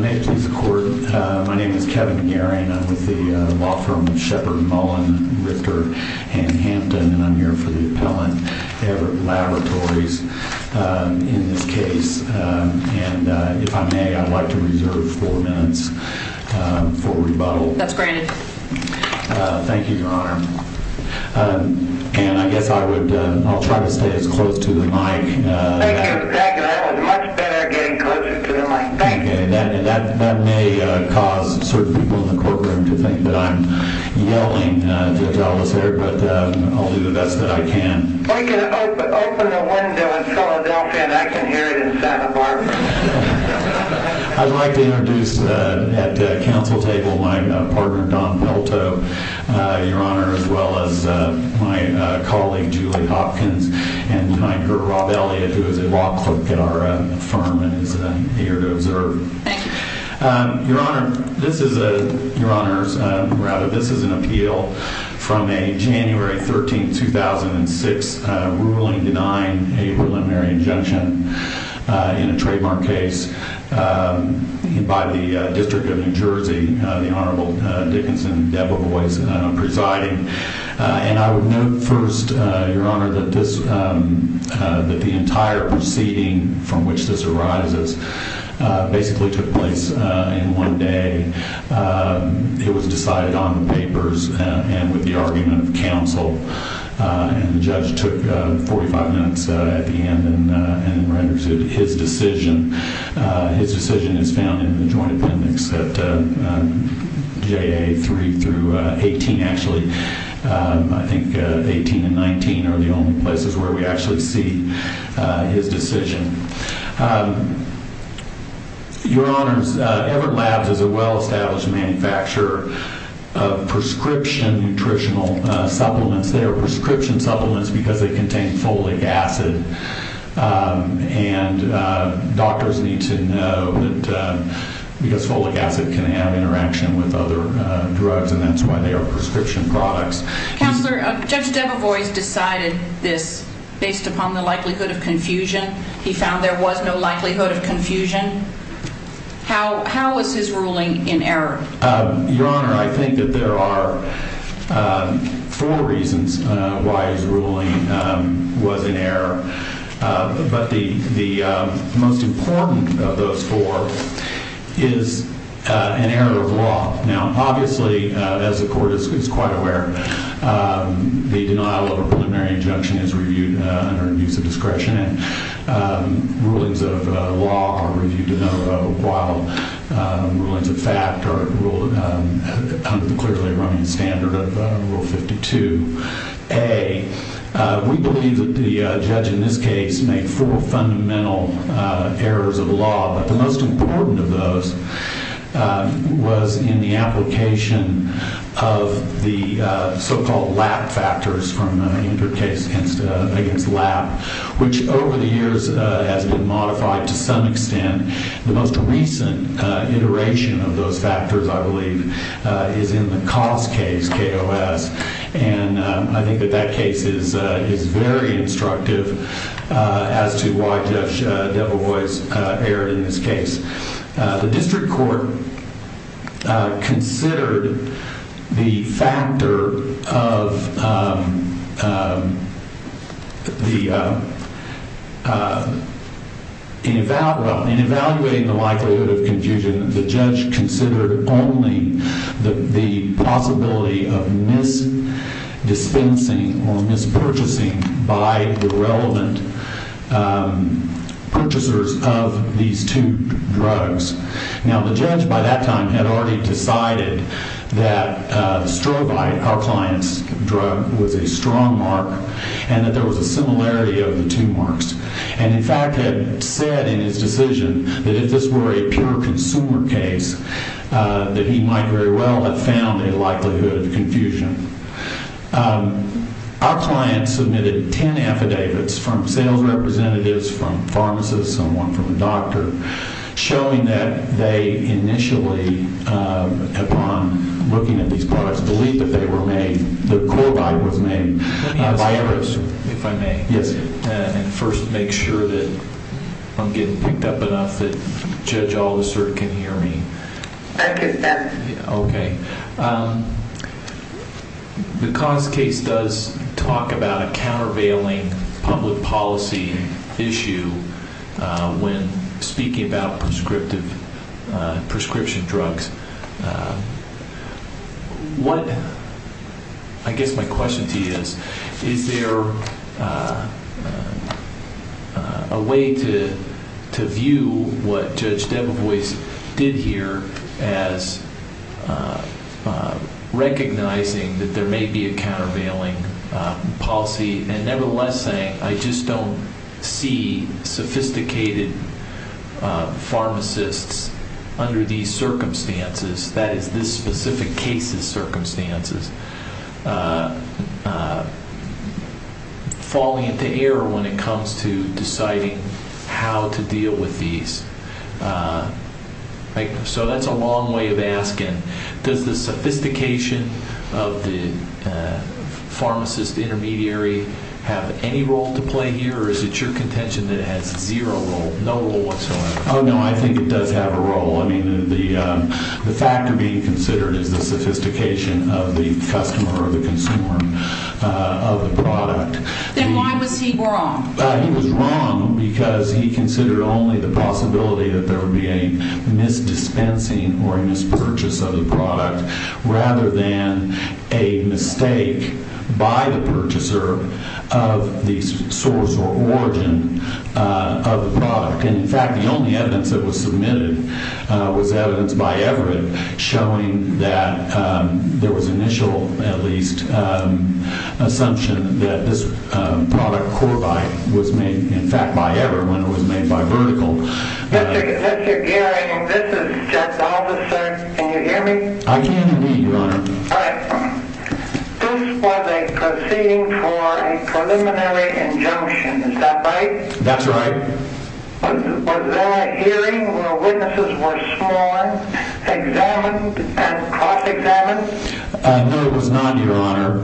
May it please the Court, my name is Kevin Garin, I'm with the law firm Shepard Mullen Richter and Hampton, and I'm here for the appellant Everett Laboratories in this case, and if I may, I'd like to reserve four minutes for questions. For rebuttal. That's granted. Thank you, Your Honor. And I guess I would, I'll try to stay as close to the mic. Thank you, that was much better getting closer to the mic, thank you. And that may cause certain people in the courtroom to think that I'm yelling at all of us here, but I'll do the best that I can. Well you can open the window in Philadelphia and I can hear it in Santa Barbara. I'd like to introduce at the council table my partner Don Pelto, Your Honor, as well as my colleague Julie Hopkins and my girl Rob Elliott who is a law clerk at our firm and is here to observe. Thank you. Your Honor, this is an appeal from a January 13, 2006, ruling denying a preliminary injunction in a trademark case by the District of New Jersey, the Honorable Dickinson Debevoise presiding. And I would note first, Your Honor, that the entire proceeding from which this arises basically took place in one day. It was decided on the papers and with the argument of counsel. And the judge took 45 minutes at the end and rendered his decision. His decision is found in the Joint Appendix at JA 3 through 18, actually. I think 18 and 19 are the only places where we actually see his decision. Your Honors, Everett Labs is a well established manufacturer of prescription nutritional supplements. They are prescription supplements because they contain folic acid. And doctors need to know that because folic acid can have interaction with other drugs and that's why they are prescription products. Counselor, Judge Debevoise decided this based upon the likelihood of confusion. He found there was no likelihood of confusion. How was his ruling in error? Your Honor, I think that there are four reasons why his ruling was in error. But the most important of those four is an error of law. Now, obviously, as the court is quite aware, the denial of a preliminary injunction is reviewed under abuse of discretion. And rulings of law are reviewed in a while. Rulings of fact are ruled under the clearly running standard of Rule 52A. We believe that the judge in this case made four fundamental errors of law. But the most important of those was in the application of the so-called lap factors from the injured case against lap, which over the years has been modified to some extent. The most recent iteration of those factors, I believe, is in the cost case, KOS. And I think that that case is very instructive as to why Judge Debevoise erred in this case. The district court considered the factor of the, in evaluating the likelihood of confusion, the judge considered only the possibility of mis-dispensing or mis-purchasing by the relevant purchasers of these two drugs. Now, the judge by that time had already decided that strovite, our client's drug, was a strong mark, and that there was a similarity of the two marks. And, in fact, had said in his decision that if this were a pure consumer case, that he might very well have found a likelihood of confusion. Our client submitted 10 affidavits from sales representatives, from pharmacists, someone from a doctor, showing that they initially, upon looking at these products, believed that they were made, that Korvai was made. Let me ask you a question, if I may. Yes, sir. And first, make sure that I'm getting picked up enough that Judge Aldisert can hear me. I accept. Okay. The cost case does talk about a countervailing public policy issue when speaking about prescriptive, prescription drugs. What I guess my question to you is, is there a way to view what Judge Debevoise did here as recognizing that there may be a countervailing policy and, nevertheless, saying, I just don't see sophisticated pharmacists under these circumstances, that is, this specific case's circumstances, falling into error when it comes to deciding how to deal with these. So that's a long way of asking. Does the sophistication of the pharmacist intermediary have any role to play here, or is it your contention that it has zero role, no role whatsoever? Oh, no, I think it does have a role. I mean, the factor being considered is the sophistication of the customer or the consumer of the product. Then why was he wrong? He was wrong because he considered only the possibility that there would be a misdispensing or a mispurchase of the product rather than a mistake by the purchaser of the source or origin of the product. And, in fact, the only evidence that was submitted was evidence by Everett showing that there was initial, at least, assumption that this product, Corbite, was made, in fact, by Everett, when it was made by Vertical. Mr. Gearing, this is Jeff Dolfus, sir. Can you hear me? I can, indeed, Your Honor. All right. This was a proceeding for a preliminary injunction, is that right? That's right. Was there a hearing where witnesses were sworn, examined, and cross-examined? No, it was not, Your Honor.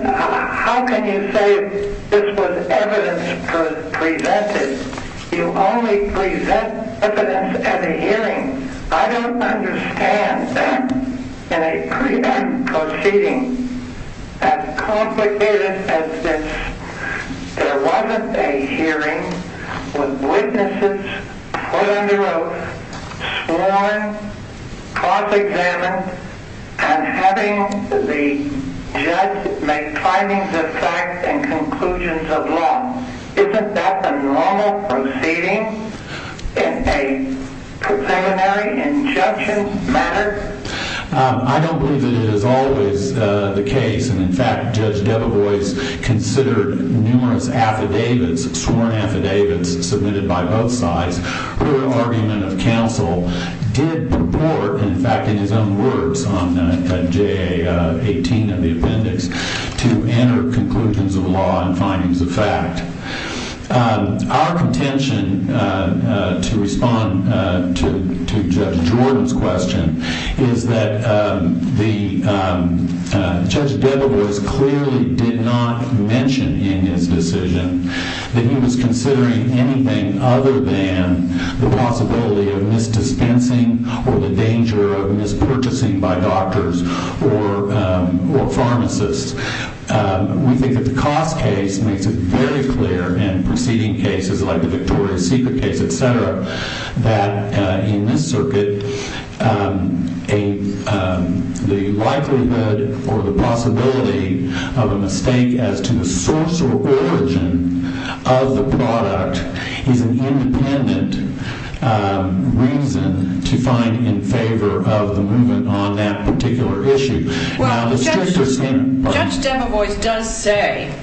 How can you say this was evidence presented? You only present evidence at a hearing. I don't understand that in a pre-act proceeding. As complicated as this, there wasn't a hearing with witnesses put under oath, sworn, cross-examined, and having the judge make findings of fact and conclusions of law. Isn't that the normal proceeding in a preliminary injunction matter? I don't believe that it is always the case. In fact, Judge Debevoise considered numerous affidavits, sworn affidavits, submitted by both sides, where an argument of counsel did purport, in fact, in his own words on JA 18 of the appendix, to enter conclusions of law and findings of fact. Our contention to respond to Judge Jordan's question is that Judge Debevoise clearly did not mention in his decision that he was considering anything other than the possibility of misdispensing or the danger of mispurchasing by doctors or pharmacists. We think that the cost case makes it very clear in proceeding cases like the Victoria's Secret case, etc., that in this circuit, the likelihood or the possibility of a mistake as to the source or origin of the product is an independent reason to find in favor of the movement on that particular issue. Well, Judge Debevoise does say,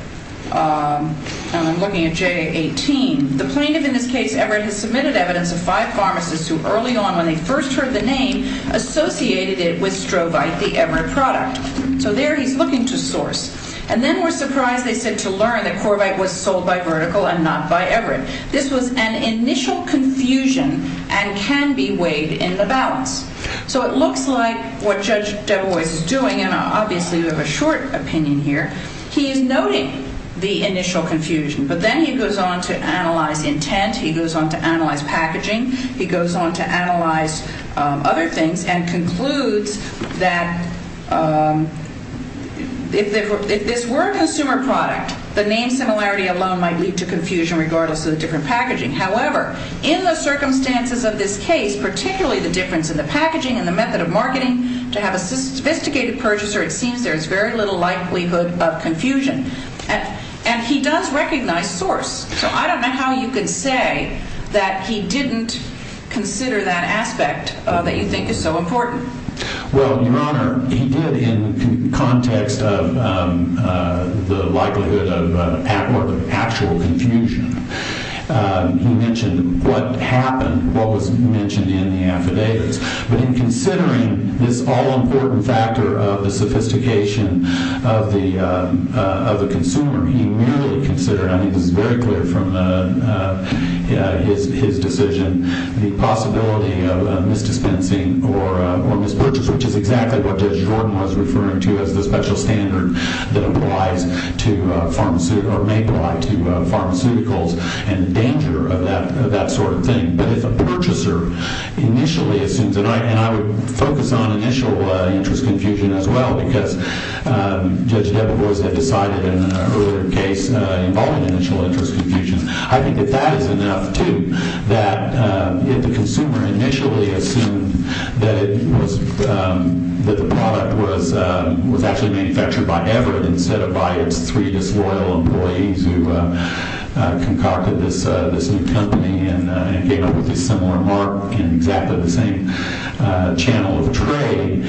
and I'm looking at JA 18, the plaintiff in this case, Everett, has submitted evidence of five pharmacists who early on when they first heard the name associated it with strovite, the Everett product. So there he's looking to source. And then we're surprised, they said, to learn that Corvite was sold by Vertical and not by Everett. This was an initial confusion and can be weighed in the balance. So it looks like what Judge Debevoise is doing, and obviously we have a short opinion here, he is noting the initial confusion, but then he goes on to analyze intent, he goes on to analyze packaging, he goes on to analyze other things and concludes that if this were a consumer product, the name similarity alone might lead to confusion regardless of the different packaging. However, in the circumstances of this case, particularly the difference in the packaging and the method of marketing, to have a sophisticated purchaser, it seems there is very little likelihood of confusion. And he does recognize source. So I don't know how you could say that he didn't consider that aspect that you think is so important. Well, Your Honor, he did in context of the likelihood of actual confusion. He mentioned what happened, what was mentioned in the affidavits. But in considering this all-important factor of the sophistication of the consumer, he merely considered, I think this is very clear from his decision, the possibility of misdispensing or mispurchase, which is exactly what Judge Jordan was referring to as the special standard that applies to pharmaceuticals and the danger of that sort of thing. But if a purchaser initially assumes, and I would focus on initial interest confusion as well because Judge Debevoise had decided in an earlier case involving initial interest confusion, I think that that is enough, too, that if the consumer initially assumed that the product was actually manufactured by Everett instead of by its three disloyal employees who concocted this new company and came up with this similar mark in exactly the same channel of trade,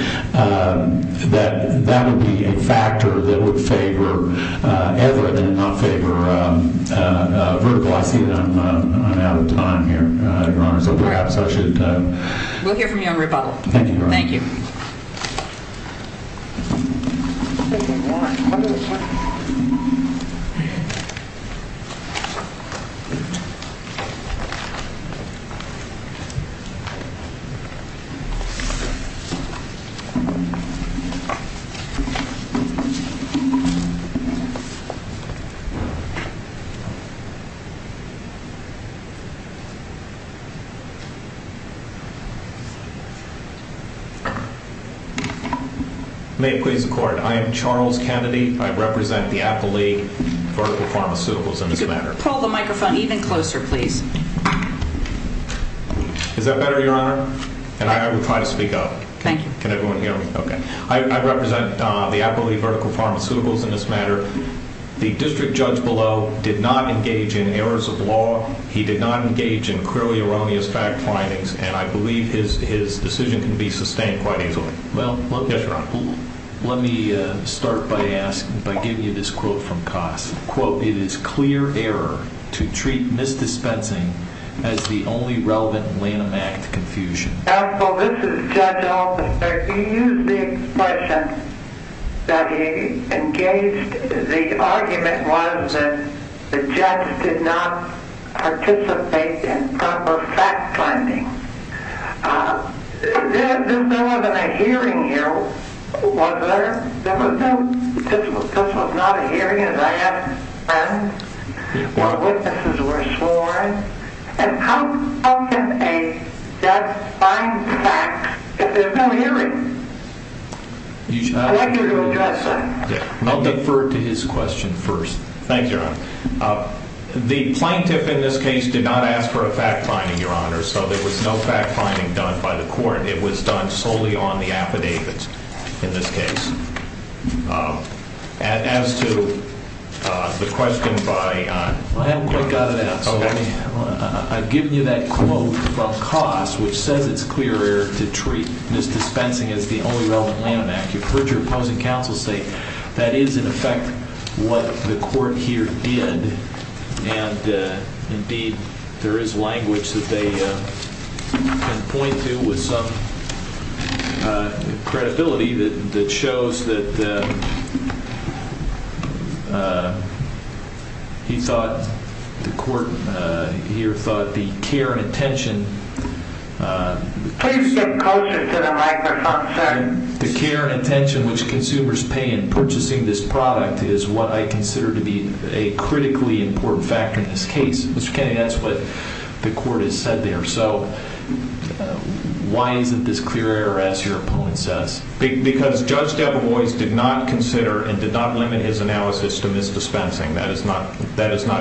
that that would be a factor that would favor Everett and not favor Vertical. I see that I'm out of time here, Your Honor. We'll hear from you on rebuttal. Thank you. May it please the Court. I am Charles Kennedy. I represent the Apple League Vertical Pharmaceuticals in this matter. Pull the microphone even closer, please. Is that better, Your Honor? And I will try to speak up. Thank you. Can everyone hear me? Okay. I represent the Apple League Vertical Pharmaceuticals in this matter. The district judge below did not engage in errors of law. He did not engage in clearly erroneous fabrications. And I believe his decision can be sustained quite easily. Yes, Your Honor. Let me start by giving you this quote from Cost. Counsel, this is Judge Alba. You used the expression that he engaged. The argument was that the judge did not participate in proper fact-finding. There wasn't a hearing here, was there? There was no. This was not a hearing, as I asked my friends. Our witnesses were sworn. And how can a judge find facts if there's no hearing? I'd like you to address that. I'll defer to his question first. Thank you, Your Honor. The plaintiff in this case did not ask for a fact-finding, Your Honor. So there was no fact-finding done by the court. It was done solely on the affidavits in this case. As to the question by... I haven't quite got it out. I've given you that quote from Cost, which says it's clear error to treat misdispensing as the only relevant landmark. You've heard your opposing counsel say that is, in effect, what the court here did. And, indeed, there is language that they can point to with some credibility that shows that he thought the court here thought the care and attention... Please get closer to the microphone, sir. The care and attention which consumers pay in purchasing this product is what I consider to be a critically important factor in this case. Mr. Kennedy, that's what the court has said there. So why isn't this clear error, as your opponent says? Because Judge Debevoise did not consider and did not limit his analysis to misdispensing. That is not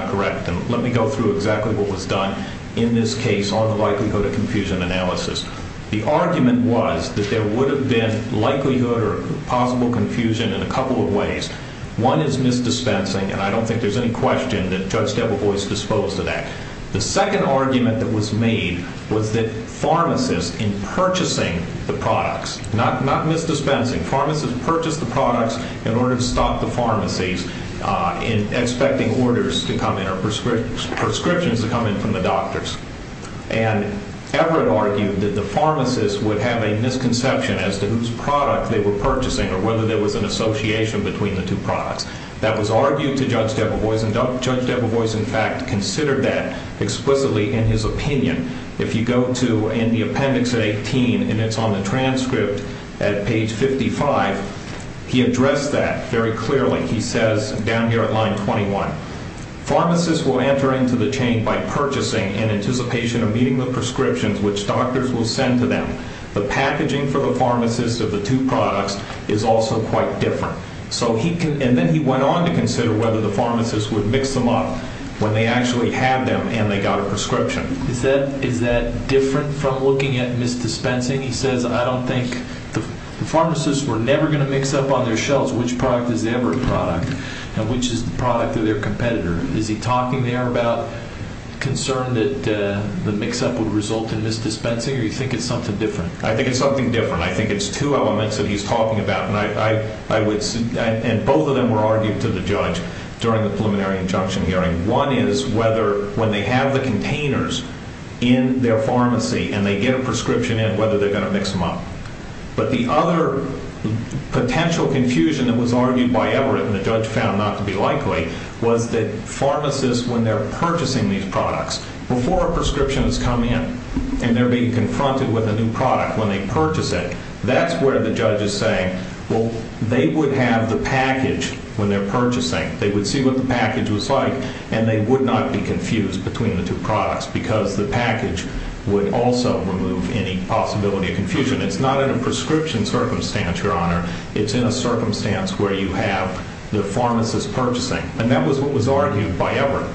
correct. And let me go through exactly what was done in this case on the likelihood of confusion analysis. The argument was that there would have been likelihood or possible confusion in a couple of ways. One is misdispensing, and I don't think there's any question that Judge Debevoise disposed of that. The second argument that was made was that pharmacists in purchasing the products... Not misdispensing. Pharmacists purchased the products in order to stop the pharmacies in expecting orders to come in or prescriptions to come in from the doctors. And Everett argued that the pharmacists would have a misconception as to whose product they were purchasing or whether there was an association between the two products. That was argued to Judge Debevoise, and Judge Debevoise, in fact, considered that explicitly in his opinion. If you go to the appendix 18, and it's on the transcript at page 55, he addressed that very clearly. He says down here at line 21, Is that different from looking at misdispensing? The pharmacists were never going to mix up on their shelves which product is the Everett product and which is the product of their competitor. Is he talking there about concern that the mix-up would result in misdispensing, or do you think it's something different? I think it's something different. I think it's two elements that he's talking about, and both of them were argued to the judge during the preliminary injunction hearing. One is whether, when they have the containers in their pharmacy and they get a prescription in, whether they're going to mix them up. But the other potential confusion that was argued by Everett and the judge found not to be likely was that pharmacists, when they're purchasing these products, before a prescription has come in and they're being confronted with a new product when they purchase it, that's where the judge is saying, well, they would have the package when they're purchasing. They would see what the package was like, and they would not be confused between the two products because the package would also remove any possibility of confusion. It's not in a prescription circumstance, Your Honor. It's in a circumstance where you have the pharmacist purchasing. And that was what was argued by Everett.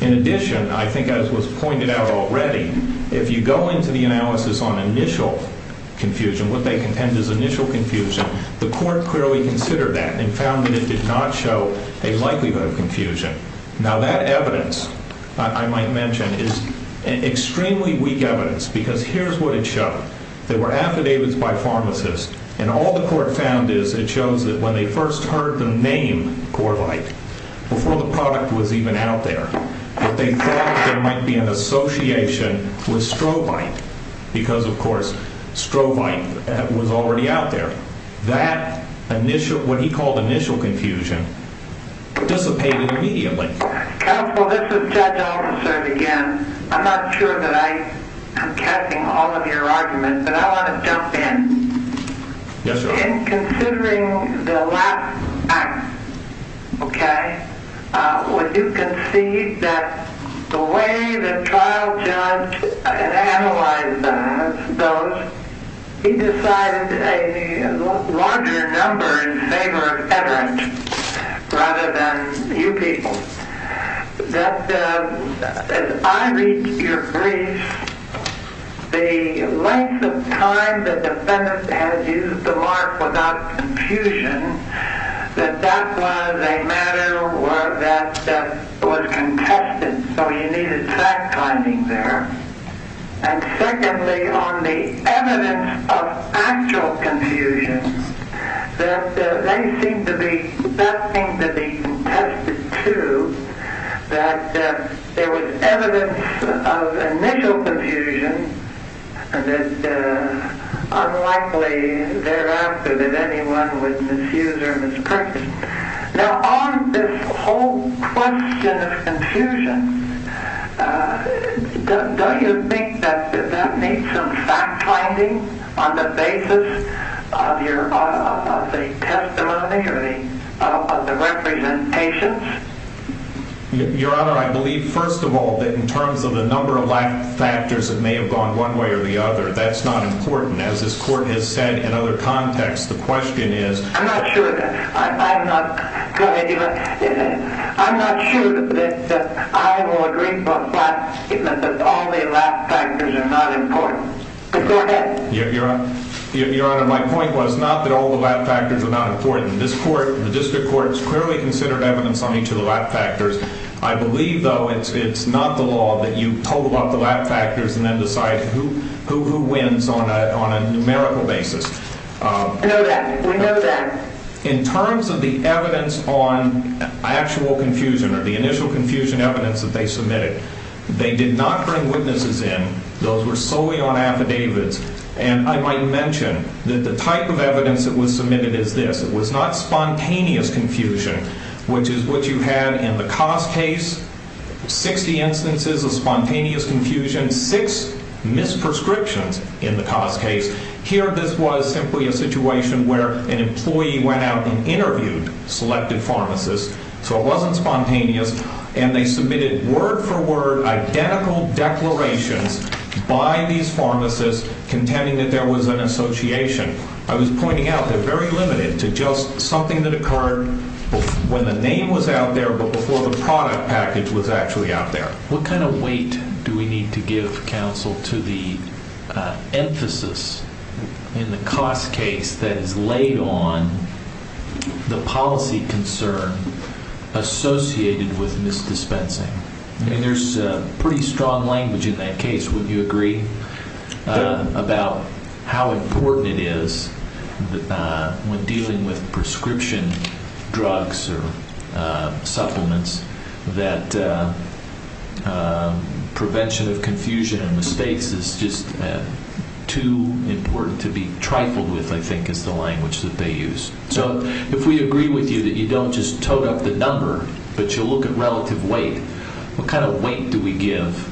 In addition, I think as was pointed out already, if you go into the analysis on initial confusion, what they contend is initial confusion, the court clearly considered that and found that it did not show a likelihood of confusion. Now, that evidence, I might mention, is extremely weak evidence because here's what it showed. There were affidavits by pharmacists, and all the court found is it shows that when they first heard the name Corvite, before the product was even out there, that they thought there might be an association with strovite because, of course, strovite was already out there. That initial, what he called initial confusion, dissipated immediately. Counsel, this is Judge Olson again. I'm not sure that I am catching all of your arguments, but I want to jump in. Yes, Your Honor. In considering the last act, okay, would you concede that the way the trial judge analyzed those, he decided a larger number in favor of Everett rather than you people, that as I read your brief, the length of time the defendant has used the mark without confusion, that that was a matter that was contested, so you needed fact-finding there. And secondly, on the evidence of actual confusion, that they seemed to be, that seemed to be contested too, that there was evidence of initial confusion that unlikely thereafter that anyone would misuse or mispractice. Now, on this whole question of confusion, don't you think that that needs some fact-finding on the basis of your, of the testimony or the representations? Your Honor, I believe, first of all, that in terms of the number of factors that may have gone one way or the other, that's not important. As this Court has said in other contexts, the question is... I'm not sure that I will agree that all the lat factors are not important. Go ahead. Your Honor, my point was not that all the lat factors are not important. This Court, the District Court, has clearly considered evidence on each of the lat factors. I believe, though, it's not the law that you total up the lat factors and then decide who wins on a numerical basis. We know that. We know that. In terms of the evidence on actual confusion or the initial confusion evidence that they submitted, they did not bring witnesses in. Those were solely on affidavits. And I might mention that the type of evidence that was submitted is this. It was not spontaneous confusion, which is what you had in the Cost case, 60 instances of spontaneous confusion, 6 misprescriptions in the Cost case. Here, this was simply a situation where an employee went out and interviewed selected pharmacists. So it wasn't spontaneous. And they submitted word-for-word identical declarations by these pharmacists contending that there was an association. I was pointing out they're very limited to just something that occurred when the name was out there but before the product package was actually out there. What kind of weight do we need to give counsel to the emphasis in the Cost case that is laid on the policy concern associated with misdispensing? I mean, there's pretty strong language in that case, wouldn't you agree, about how important it is when dealing with prescription drugs or supplements that prevention of confusion and mistakes is just too important to be trifled with, I think, is the language that they use. So if we agree with you that you don't just tote up the number but you look at relative weight, what kind of weight do we give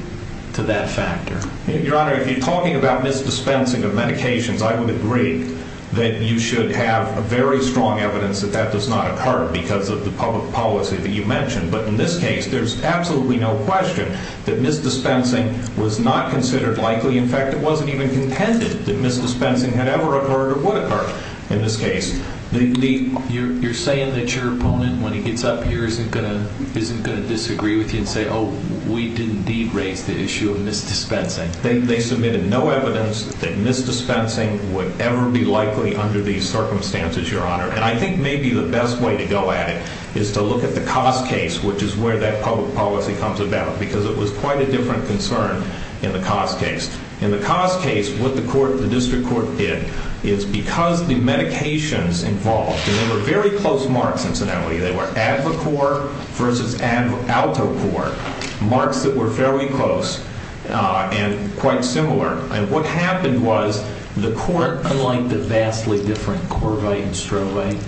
to that factor? Your Honor, if you're talking about misdispensing of medications, I would agree that you should have very strong evidence that that does not occur because of the public policy that you mentioned. But in this case, there's absolutely no question that misdispensing was not considered likely. In fact, it wasn't even contended that misdispensing had ever occurred or would occur in this case. You're saying that your opponent, when he gets up here, isn't going to disagree with you and say, oh, we did indeed raise the issue of misdispensing? They submitted no evidence that misdispensing would ever be likely under these circumstances, Your Honor. And I think maybe the best way to go at it is to look at the Cost case, which is where that public policy comes about because it was quite a different concern in the Cost case. In the Cost case, what the District Court did is because the medications involved, and they were very close marks, incidentally. They were Advocor versus Altocor, marks that were fairly close and quite similar. And what happened was the Court… Unlike the vastly different Corvite and Strolay.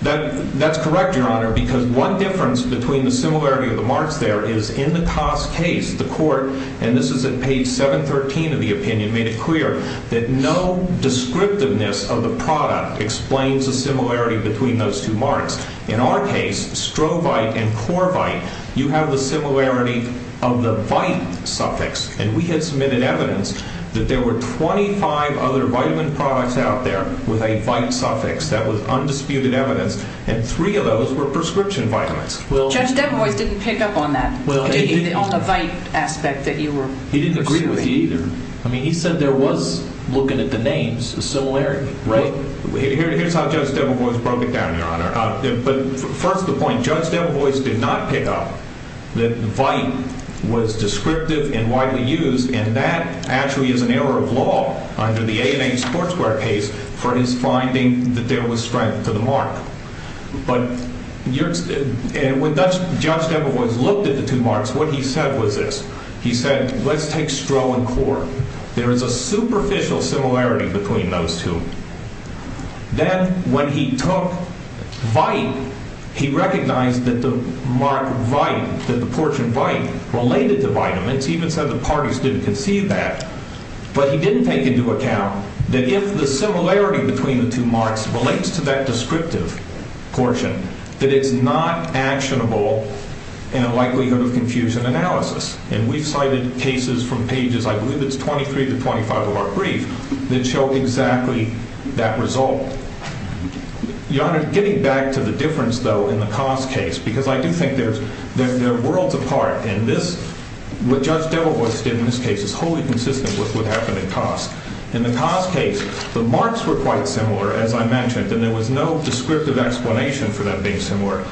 That's correct, Your Honor, because one difference between the similarity of the marks there is in the Cost case, the Court, and this is at page 713 of the opinion, made it clear that no descriptiveness of the product explains the similarity between those two marks. In our case, Strovite and Corvite, you have the similarity of the VITE suffix. And we had submitted evidence that there were 25 other vitamin products out there with a VITE suffix. That was undisputed evidence. And three of those were prescription vitamins. Judge DeBois didn't pick up on that, on the VITE aspect that you were pursuing. He didn't agree with me either. I mean, he said there was, looking at the names, a similarity, right? Well, here's how Judge DeBois broke it down, Your Honor. But first the point, Judge DeBois did not pick up that VITE was descriptive and widely used, and that actually is an error of law under the A&H Court Square case for his finding that there was strength to the mark. But when Judge DeBois looked at the two marks, what he said was this. He said, let's take Stro and Cor. There is a superficial similarity between those two. Then when he took VITE, he recognized that the mark VITE, that the portion VITE, related to vitamins. He even said the parties didn't conceive that. But he didn't take into account that if the similarity between the two marks relates to that descriptive portion, that it's not actionable in a likelihood of confusion analysis. And we've cited cases from pages, I believe it's 23 to 25 of our brief, that show exactly that result. Your Honor, getting back to the difference, though, in the Cos case, because I do think they're worlds apart. And this, what Judge DeBois did in this case is wholly consistent with what happened in Cos. In the Cos case, the marks were quite similar, as I mentioned, and there was no descriptive explanation for that being similar.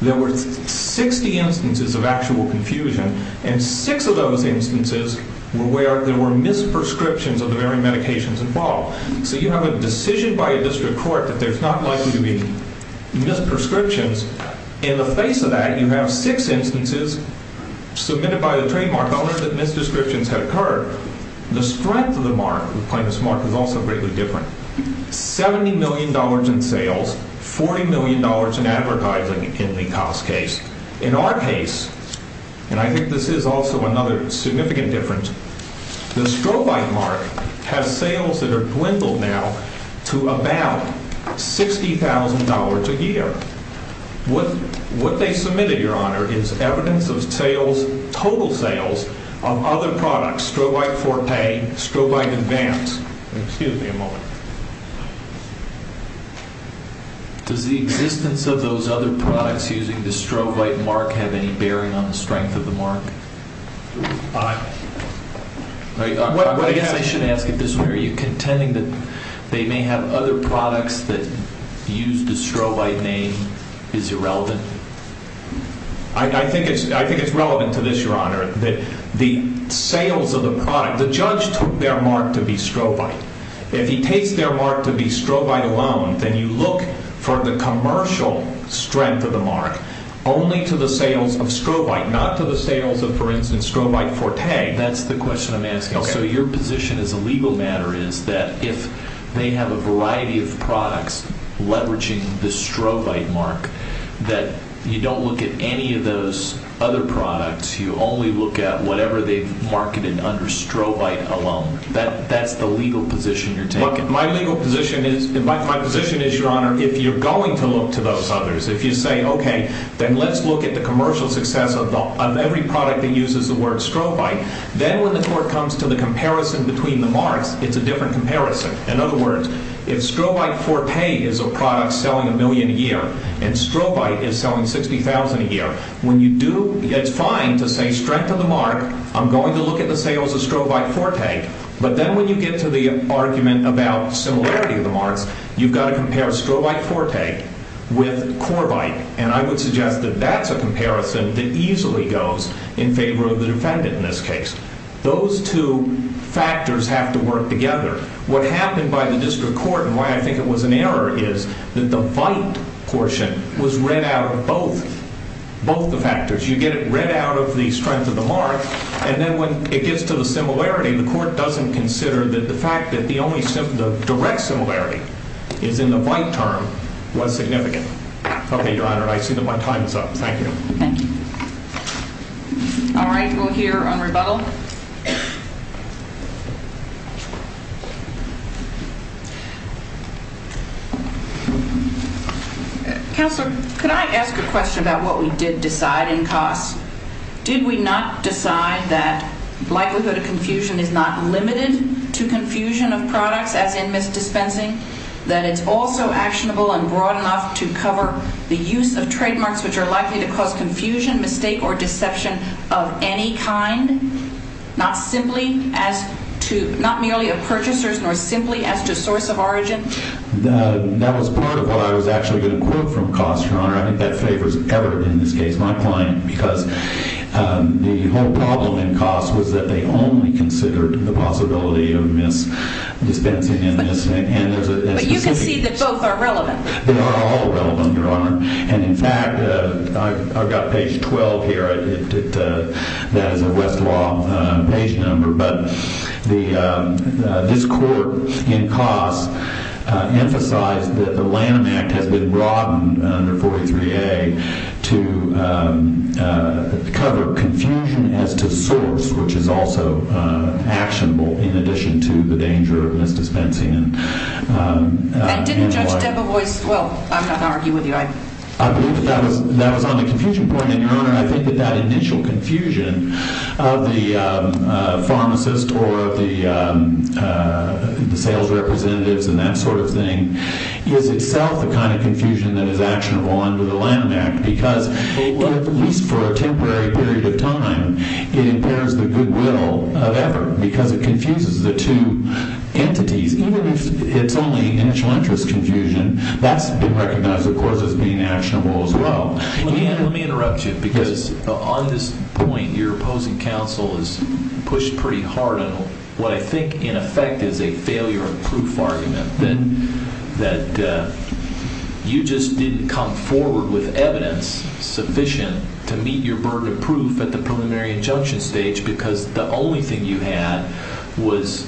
There were 60 instances of actual confusion. And six of those instances were where there were misprescriptions of the very medications involved. So you have a decision by a district court that there's not likely to be misprescriptions. In the face of that, you have six instances submitted by the trademark owner that misdescriptions had occurred. The strength of the mark, the plaintiff's mark, is also greatly different. $70 million in sales, $40 million in advertising in the Cos case. In our case, and I think this is also another significant difference, the Strobite mark has sales that are dwindled now to about $60,000 a year. What they submitted, Your Honor, is evidence of sales, total sales, of other products. The Strobite Forte, Strobite Advance. Excuse me a moment. Does the existence of those other products using the Strobite mark have any bearing on the strength of the mark? I guess I should ask it this way. Are you contending that they may have other products that use the Strobite name? Is it relevant? I think it's relevant to this, Your Honor. The sales of the product, the judge took their mark to be Strobite. If he takes their mark to be Strobite alone, then you look for the commercial strength of the mark only to the sales of Strobite, not to the sales of, for instance, Strobite Forte. That's the question I'm asking. So your position as a legal matter is that if they have a variety of products leveraging the Strobite mark, that you don't look at any of those other products. You only look at whatever they've marketed under Strobite alone. That's the legal position you're taking. My legal position is, my position is, Your Honor, if you're going to look to those others, if you say, okay, then let's look at the commercial success of every product that uses the word Strobite, then when the court comes to the comparison between the marks, it's a different comparison. In other words, if Strobite Forte is a product selling a million a year and Strobite is selling 60,000 a year, when you do, it's fine to say strength of the mark. I'm going to look at the sales of Strobite Forte. But then when you get to the argument about similarity of the marks, you've got to compare Strobite Forte with Corbite. And I would suggest that that's a comparison that easily goes in favor of the defendant in this case. Those two factors have to work together. What happened by the district court, and why I think it was an error, is that the VITE portion was read out of both, both the factors. You get it read out of the strength of the mark, and then when it gets to the similarity, the court doesn't consider that the fact that the only direct similarity is in the VITE term was significant. Okay, Your Honor, I see that my time is up. Thank you. Thank you. All right, we'll hear on rebuttal. Counselor, could I ask a question about what we did decide in costs? Did we not decide that likelihood of confusion is not limited to confusion of products, as in misdispensing, that it's also actionable and broad enough to cover the use of trademarks which are likely to cause confusion, mistake, or deception of any kind, not merely of purchasers, nor simply as to source of origin? That was part of what I was actually going to quote from costs, Your Honor. I think that favors Everett in this case, my client, because the whole problem in costs was that they only considered the possibility of misdispensing. But you can see that both are relevant. They are all relevant, Your Honor. And, in fact, I've got page 12 here. That is a Westlaw page number. But this court in costs emphasized that the Lanham Act has been broadened under 43A to cover confusion as to source, which is also actionable, in addition to the danger of misdispensing. And didn't Judge Debevoise, well, I'm not going to argue with you. I believe that that was on the confusion point, and, Your Honor, I think that that initial confusion of the pharmacist or of the sales representatives and that sort of thing is itself the kind of confusion that is actionable under the Lanham Act because, at least for a temporary period of time, it impairs the goodwill of Everett because it confuses the two entities. Even if it's only initial interest confusion, that's been recognized, of course, as being actionable as well. Let me interrupt you because, on this point, your opposing counsel has pushed pretty hard on what I think, in effect, is a failure of proof argument, that you just didn't come forward with evidence sufficient to meet your burden of proof at the preliminary injunction stage because the only thing you had was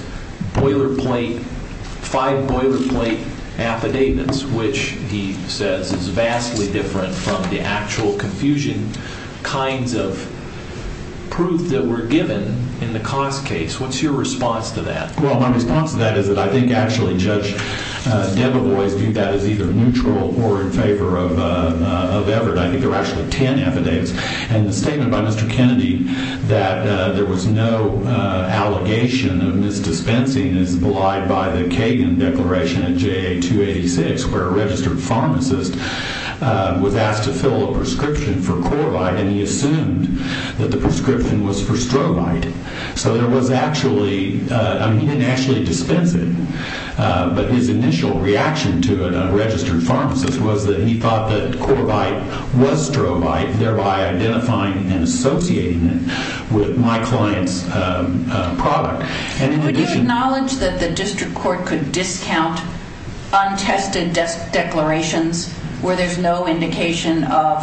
boilerplate, five boilerplate affidavits, which he says is vastly different from the actual confusion kinds of proof that were given in the cost case. What's your response to that? Well, my response to that is that I think, actually, Judge Debevoise viewed that as either neutral or in favor of Everett. I think there were actually 10 affidavits. And the statement by Mr. Kennedy that there was no allegation of misdispensing is belied by the Kagan Declaration at JA 286, where a registered pharmacist was asked to fill a prescription for Corbite, and he assumed that the prescription was for strobite. So there was actually, I mean, he didn't actually dispense it, but his initial reaction to it, a registered pharmacist, was that he thought that Corbite was strobite, thereby identifying and associating it with my client's product. Could you acknowledge that the district court could discount untested declarations where there's no indication of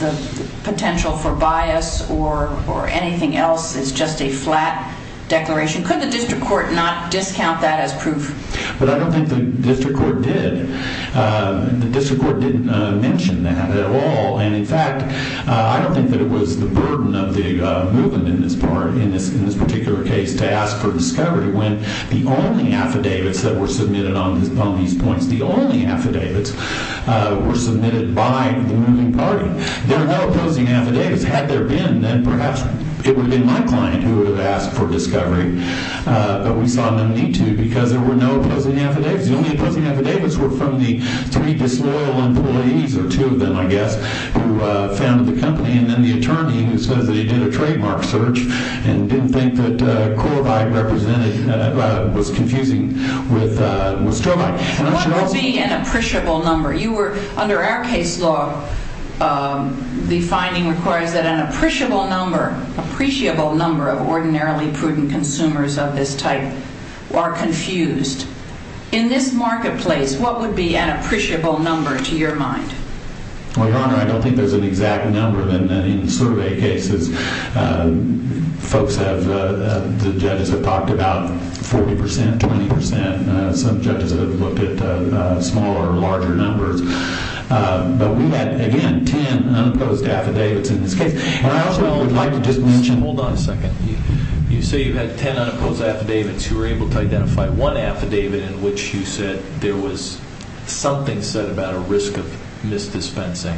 the potential for bias or anything else is just a flat declaration? Could the district court not discount that as proof? But I don't think the district court did. The district court didn't mention that at all. And, in fact, I don't think that it was the burden of the movement in this part, in this particular case, to ask for discovery when the only affidavits that were submitted on these points, the only affidavits were submitted by the moving party. There were no opposing affidavits. Had there been, then perhaps it would have been my client who would have asked for discovery, but we saw no need to because there were no opposing affidavits. The only opposing affidavits were from the three disloyal employees, or two of them, I guess, who founded the company and then the attorney who says that he did a trademark search and didn't think that Corbite was confusing with strobite. What would be an appreciable number? Under our case law, the finding requires that an appreciable number, appreciable number of ordinarily prudent consumers of this type are confused. In this marketplace, what would be an appreciable number to your mind? Well, Your Honor, I don't think there's an exact number. In survey cases, folks have, the judges have talked about 40 percent, 20 percent. Some judges have looked at smaller or larger numbers. But we had, again, ten unopposed affidavits in this case. I also would like to just mention. Hold on a second. You say you had ten unopposed affidavits. You were able to identify one affidavit in which you said there was something said about a risk of misdispensing.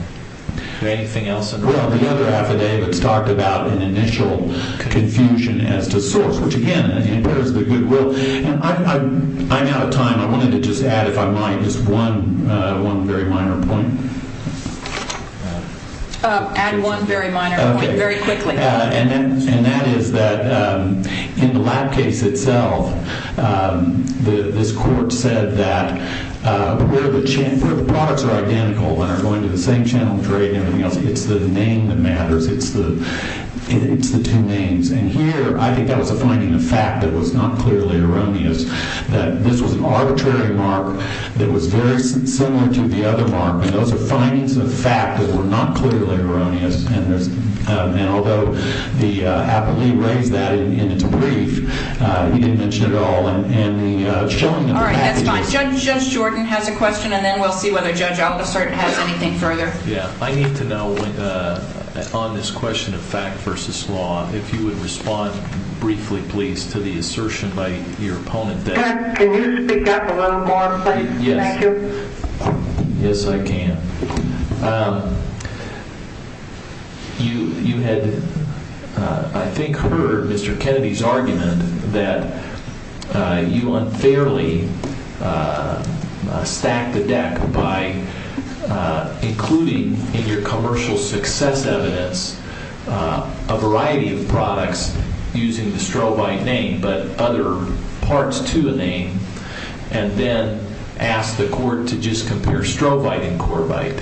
Is there anything else? Well, the other affidavits talked about an initial confusion as to source, which, again, impairs the goodwill. I'm out of time. I wanted to just add, if I might, just one very minor point. Add one very minor point very quickly. And that is that in the lab case itself, this court said that where the products are identical and are going to the same channel of trade and everything else, it's the name that matters. It's the two names. And here, I think that was a finding of fact that was not clearly erroneous, that this was an arbitrary mark that was very similar to the other mark. And those are findings of fact that were not clearly erroneous. And although the appellee raised that in its brief, he didn't mention it at all in the showing of the facts. All right, that's fine. Judge Jordan has a question, and then we'll see whether Judge Aldisert has anything further. Yeah. I need to know, on this question of fact versus law, if you would respond briefly, please, to the assertion by your opponent that Can you speak up a little more, please? Yes. Can I hear? Yes, I can. You had, I think, heard Mr. Kennedy's argument that you unfairly stacked the deck by including in your commercial success evidence a variety of products using the strovite name but other parts to a name, and then asked the court to just compare strovite and corvite.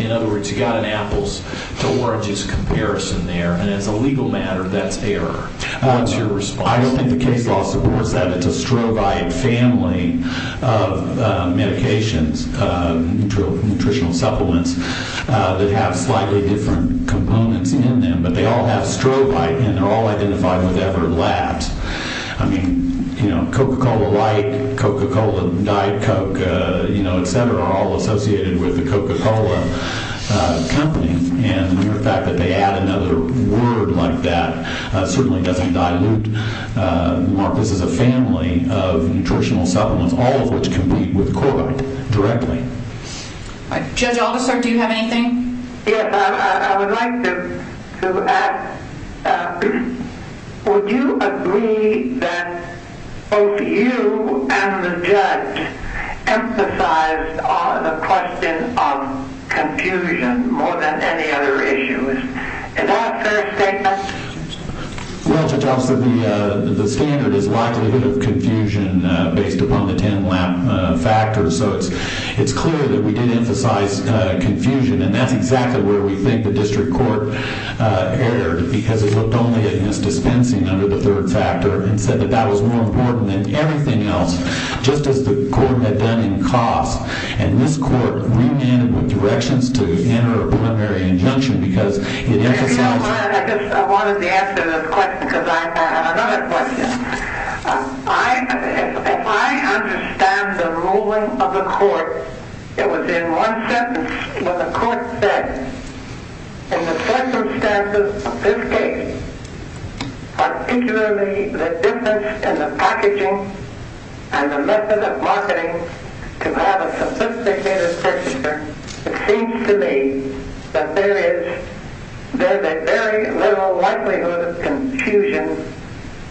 In other words, you got an apples to oranges comparison there, and as a legal matter, that's error. What's your response? I don't think the case law supports that. It's a strovite family of medications, nutritional supplements, that have slightly different components in them. But they all have strovite, and they're all identified with Everett Labs. I mean, Coca-Cola Light, Coca-Cola Diet Coke, et cetera, are all associated with the Coca-Cola company. And the fact that they add another word like that certainly doesn't dilute. This is a family of nutritional supplements, all of which compete with corvite directly. Judge Augustert, do you have anything? Yes, I would like to ask, would you agree that both you and the judge emphasized the question of confusion more than any other issue? Is that a fair statement? Well, Judge Augustert, the standard is likelihood of confusion based upon the 10-lap factor. So it's clear that we did emphasize confusion, and that's exactly where we think the district court erred, because it looked only at misdispensing under the third factor and said that that was more important than everything else, just as the court had done in costs. And this court re-ended with directions to enter a preliminary injunction, because it emphasized – You know what, I just wanted to answer this question, because I have another question. If I understand the ruling of the court, it was in one sentence where the court said, in the circumstances of this case, particularly the difference in the packaging and the method of marketing to have a sophisticated procedure, it seems to me that there is very little likelihood of confusion,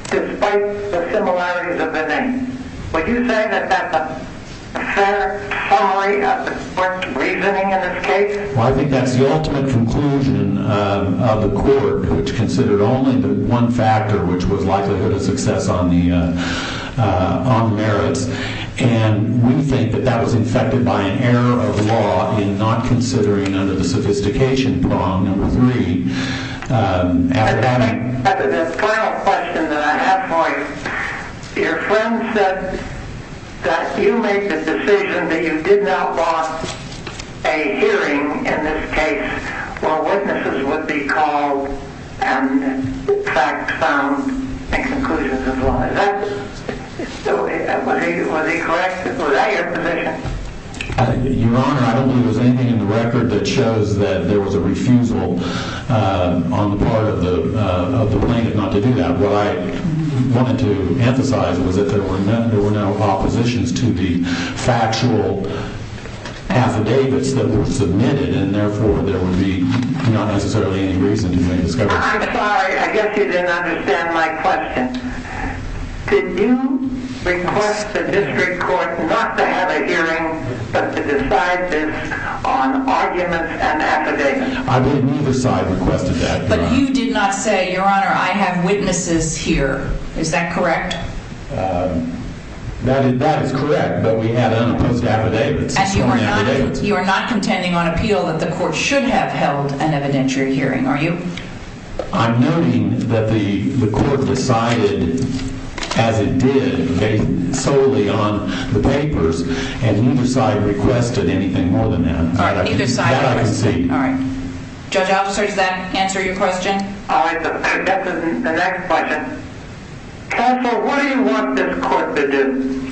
despite the similarities of the names. Would you say that that's a fair summary of the court's reasoning in this case? Well, I think that's the ultimate conclusion of the court, which considered only the one factor, which was likelihood of success on merits. And we think that that was infected by an error of law in not considering under the sophistication prong, number three. The final question that I have for you, your friend said that you made the decision that you did not want a hearing in this case where witnesses would be called and facts found and conclusions of law. Was he correct? Was that your position? Your Honor, I don't believe there's anything in the record that shows that there was a refusal on the part of the plaintiff not to do that. What I wanted to emphasize was that there were no oppositions to the factual affidavits that were submitted, and therefore there would be not necessarily any reason to make a discovery. I'm sorry. I guess you didn't understand my question. Did you request the district court not to have a hearing, but to decide this on arguments and affidavits? I believe neither side requested that, Your Honor. But you did not say, Your Honor, I have witnesses here. Is that correct? That is correct, but we had unopposed affidavits. And you are not contending on appeal that the court should have held an evidentiary hearing, are you? I'm noting that the court decided as it did, solely on the papers, and neither side requested anything more than that. All right, neither side requested. That I can see. All right. Judge Officer, does that answer your question? All right, that's the next question. Counsel, what do you want this court to do?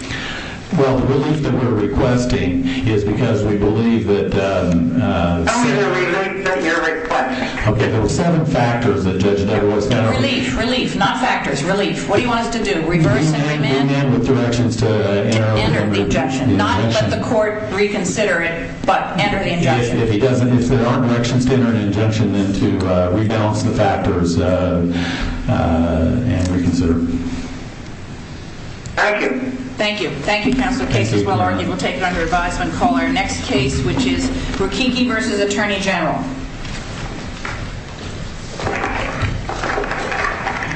Well, the relief that we're requesting is because we believe that… Tell me the relief that you're requesting. Okay, there were seven factors that Judge Deverois… Relief, relief, not factors, relief. What do you want us to do, reverse and remand? Remand with directions to enter an injunction. To enter the injunction, not let the court reconsider it, but enter the injunction. If there are directions to enter an injunction, then to renounce the factors and reconsider. Thank you. Thank you. Thank you, Counsel. The case is well argued. We'll take it under advisement. We'll call our next case, which is Rikiki v. Attorney General.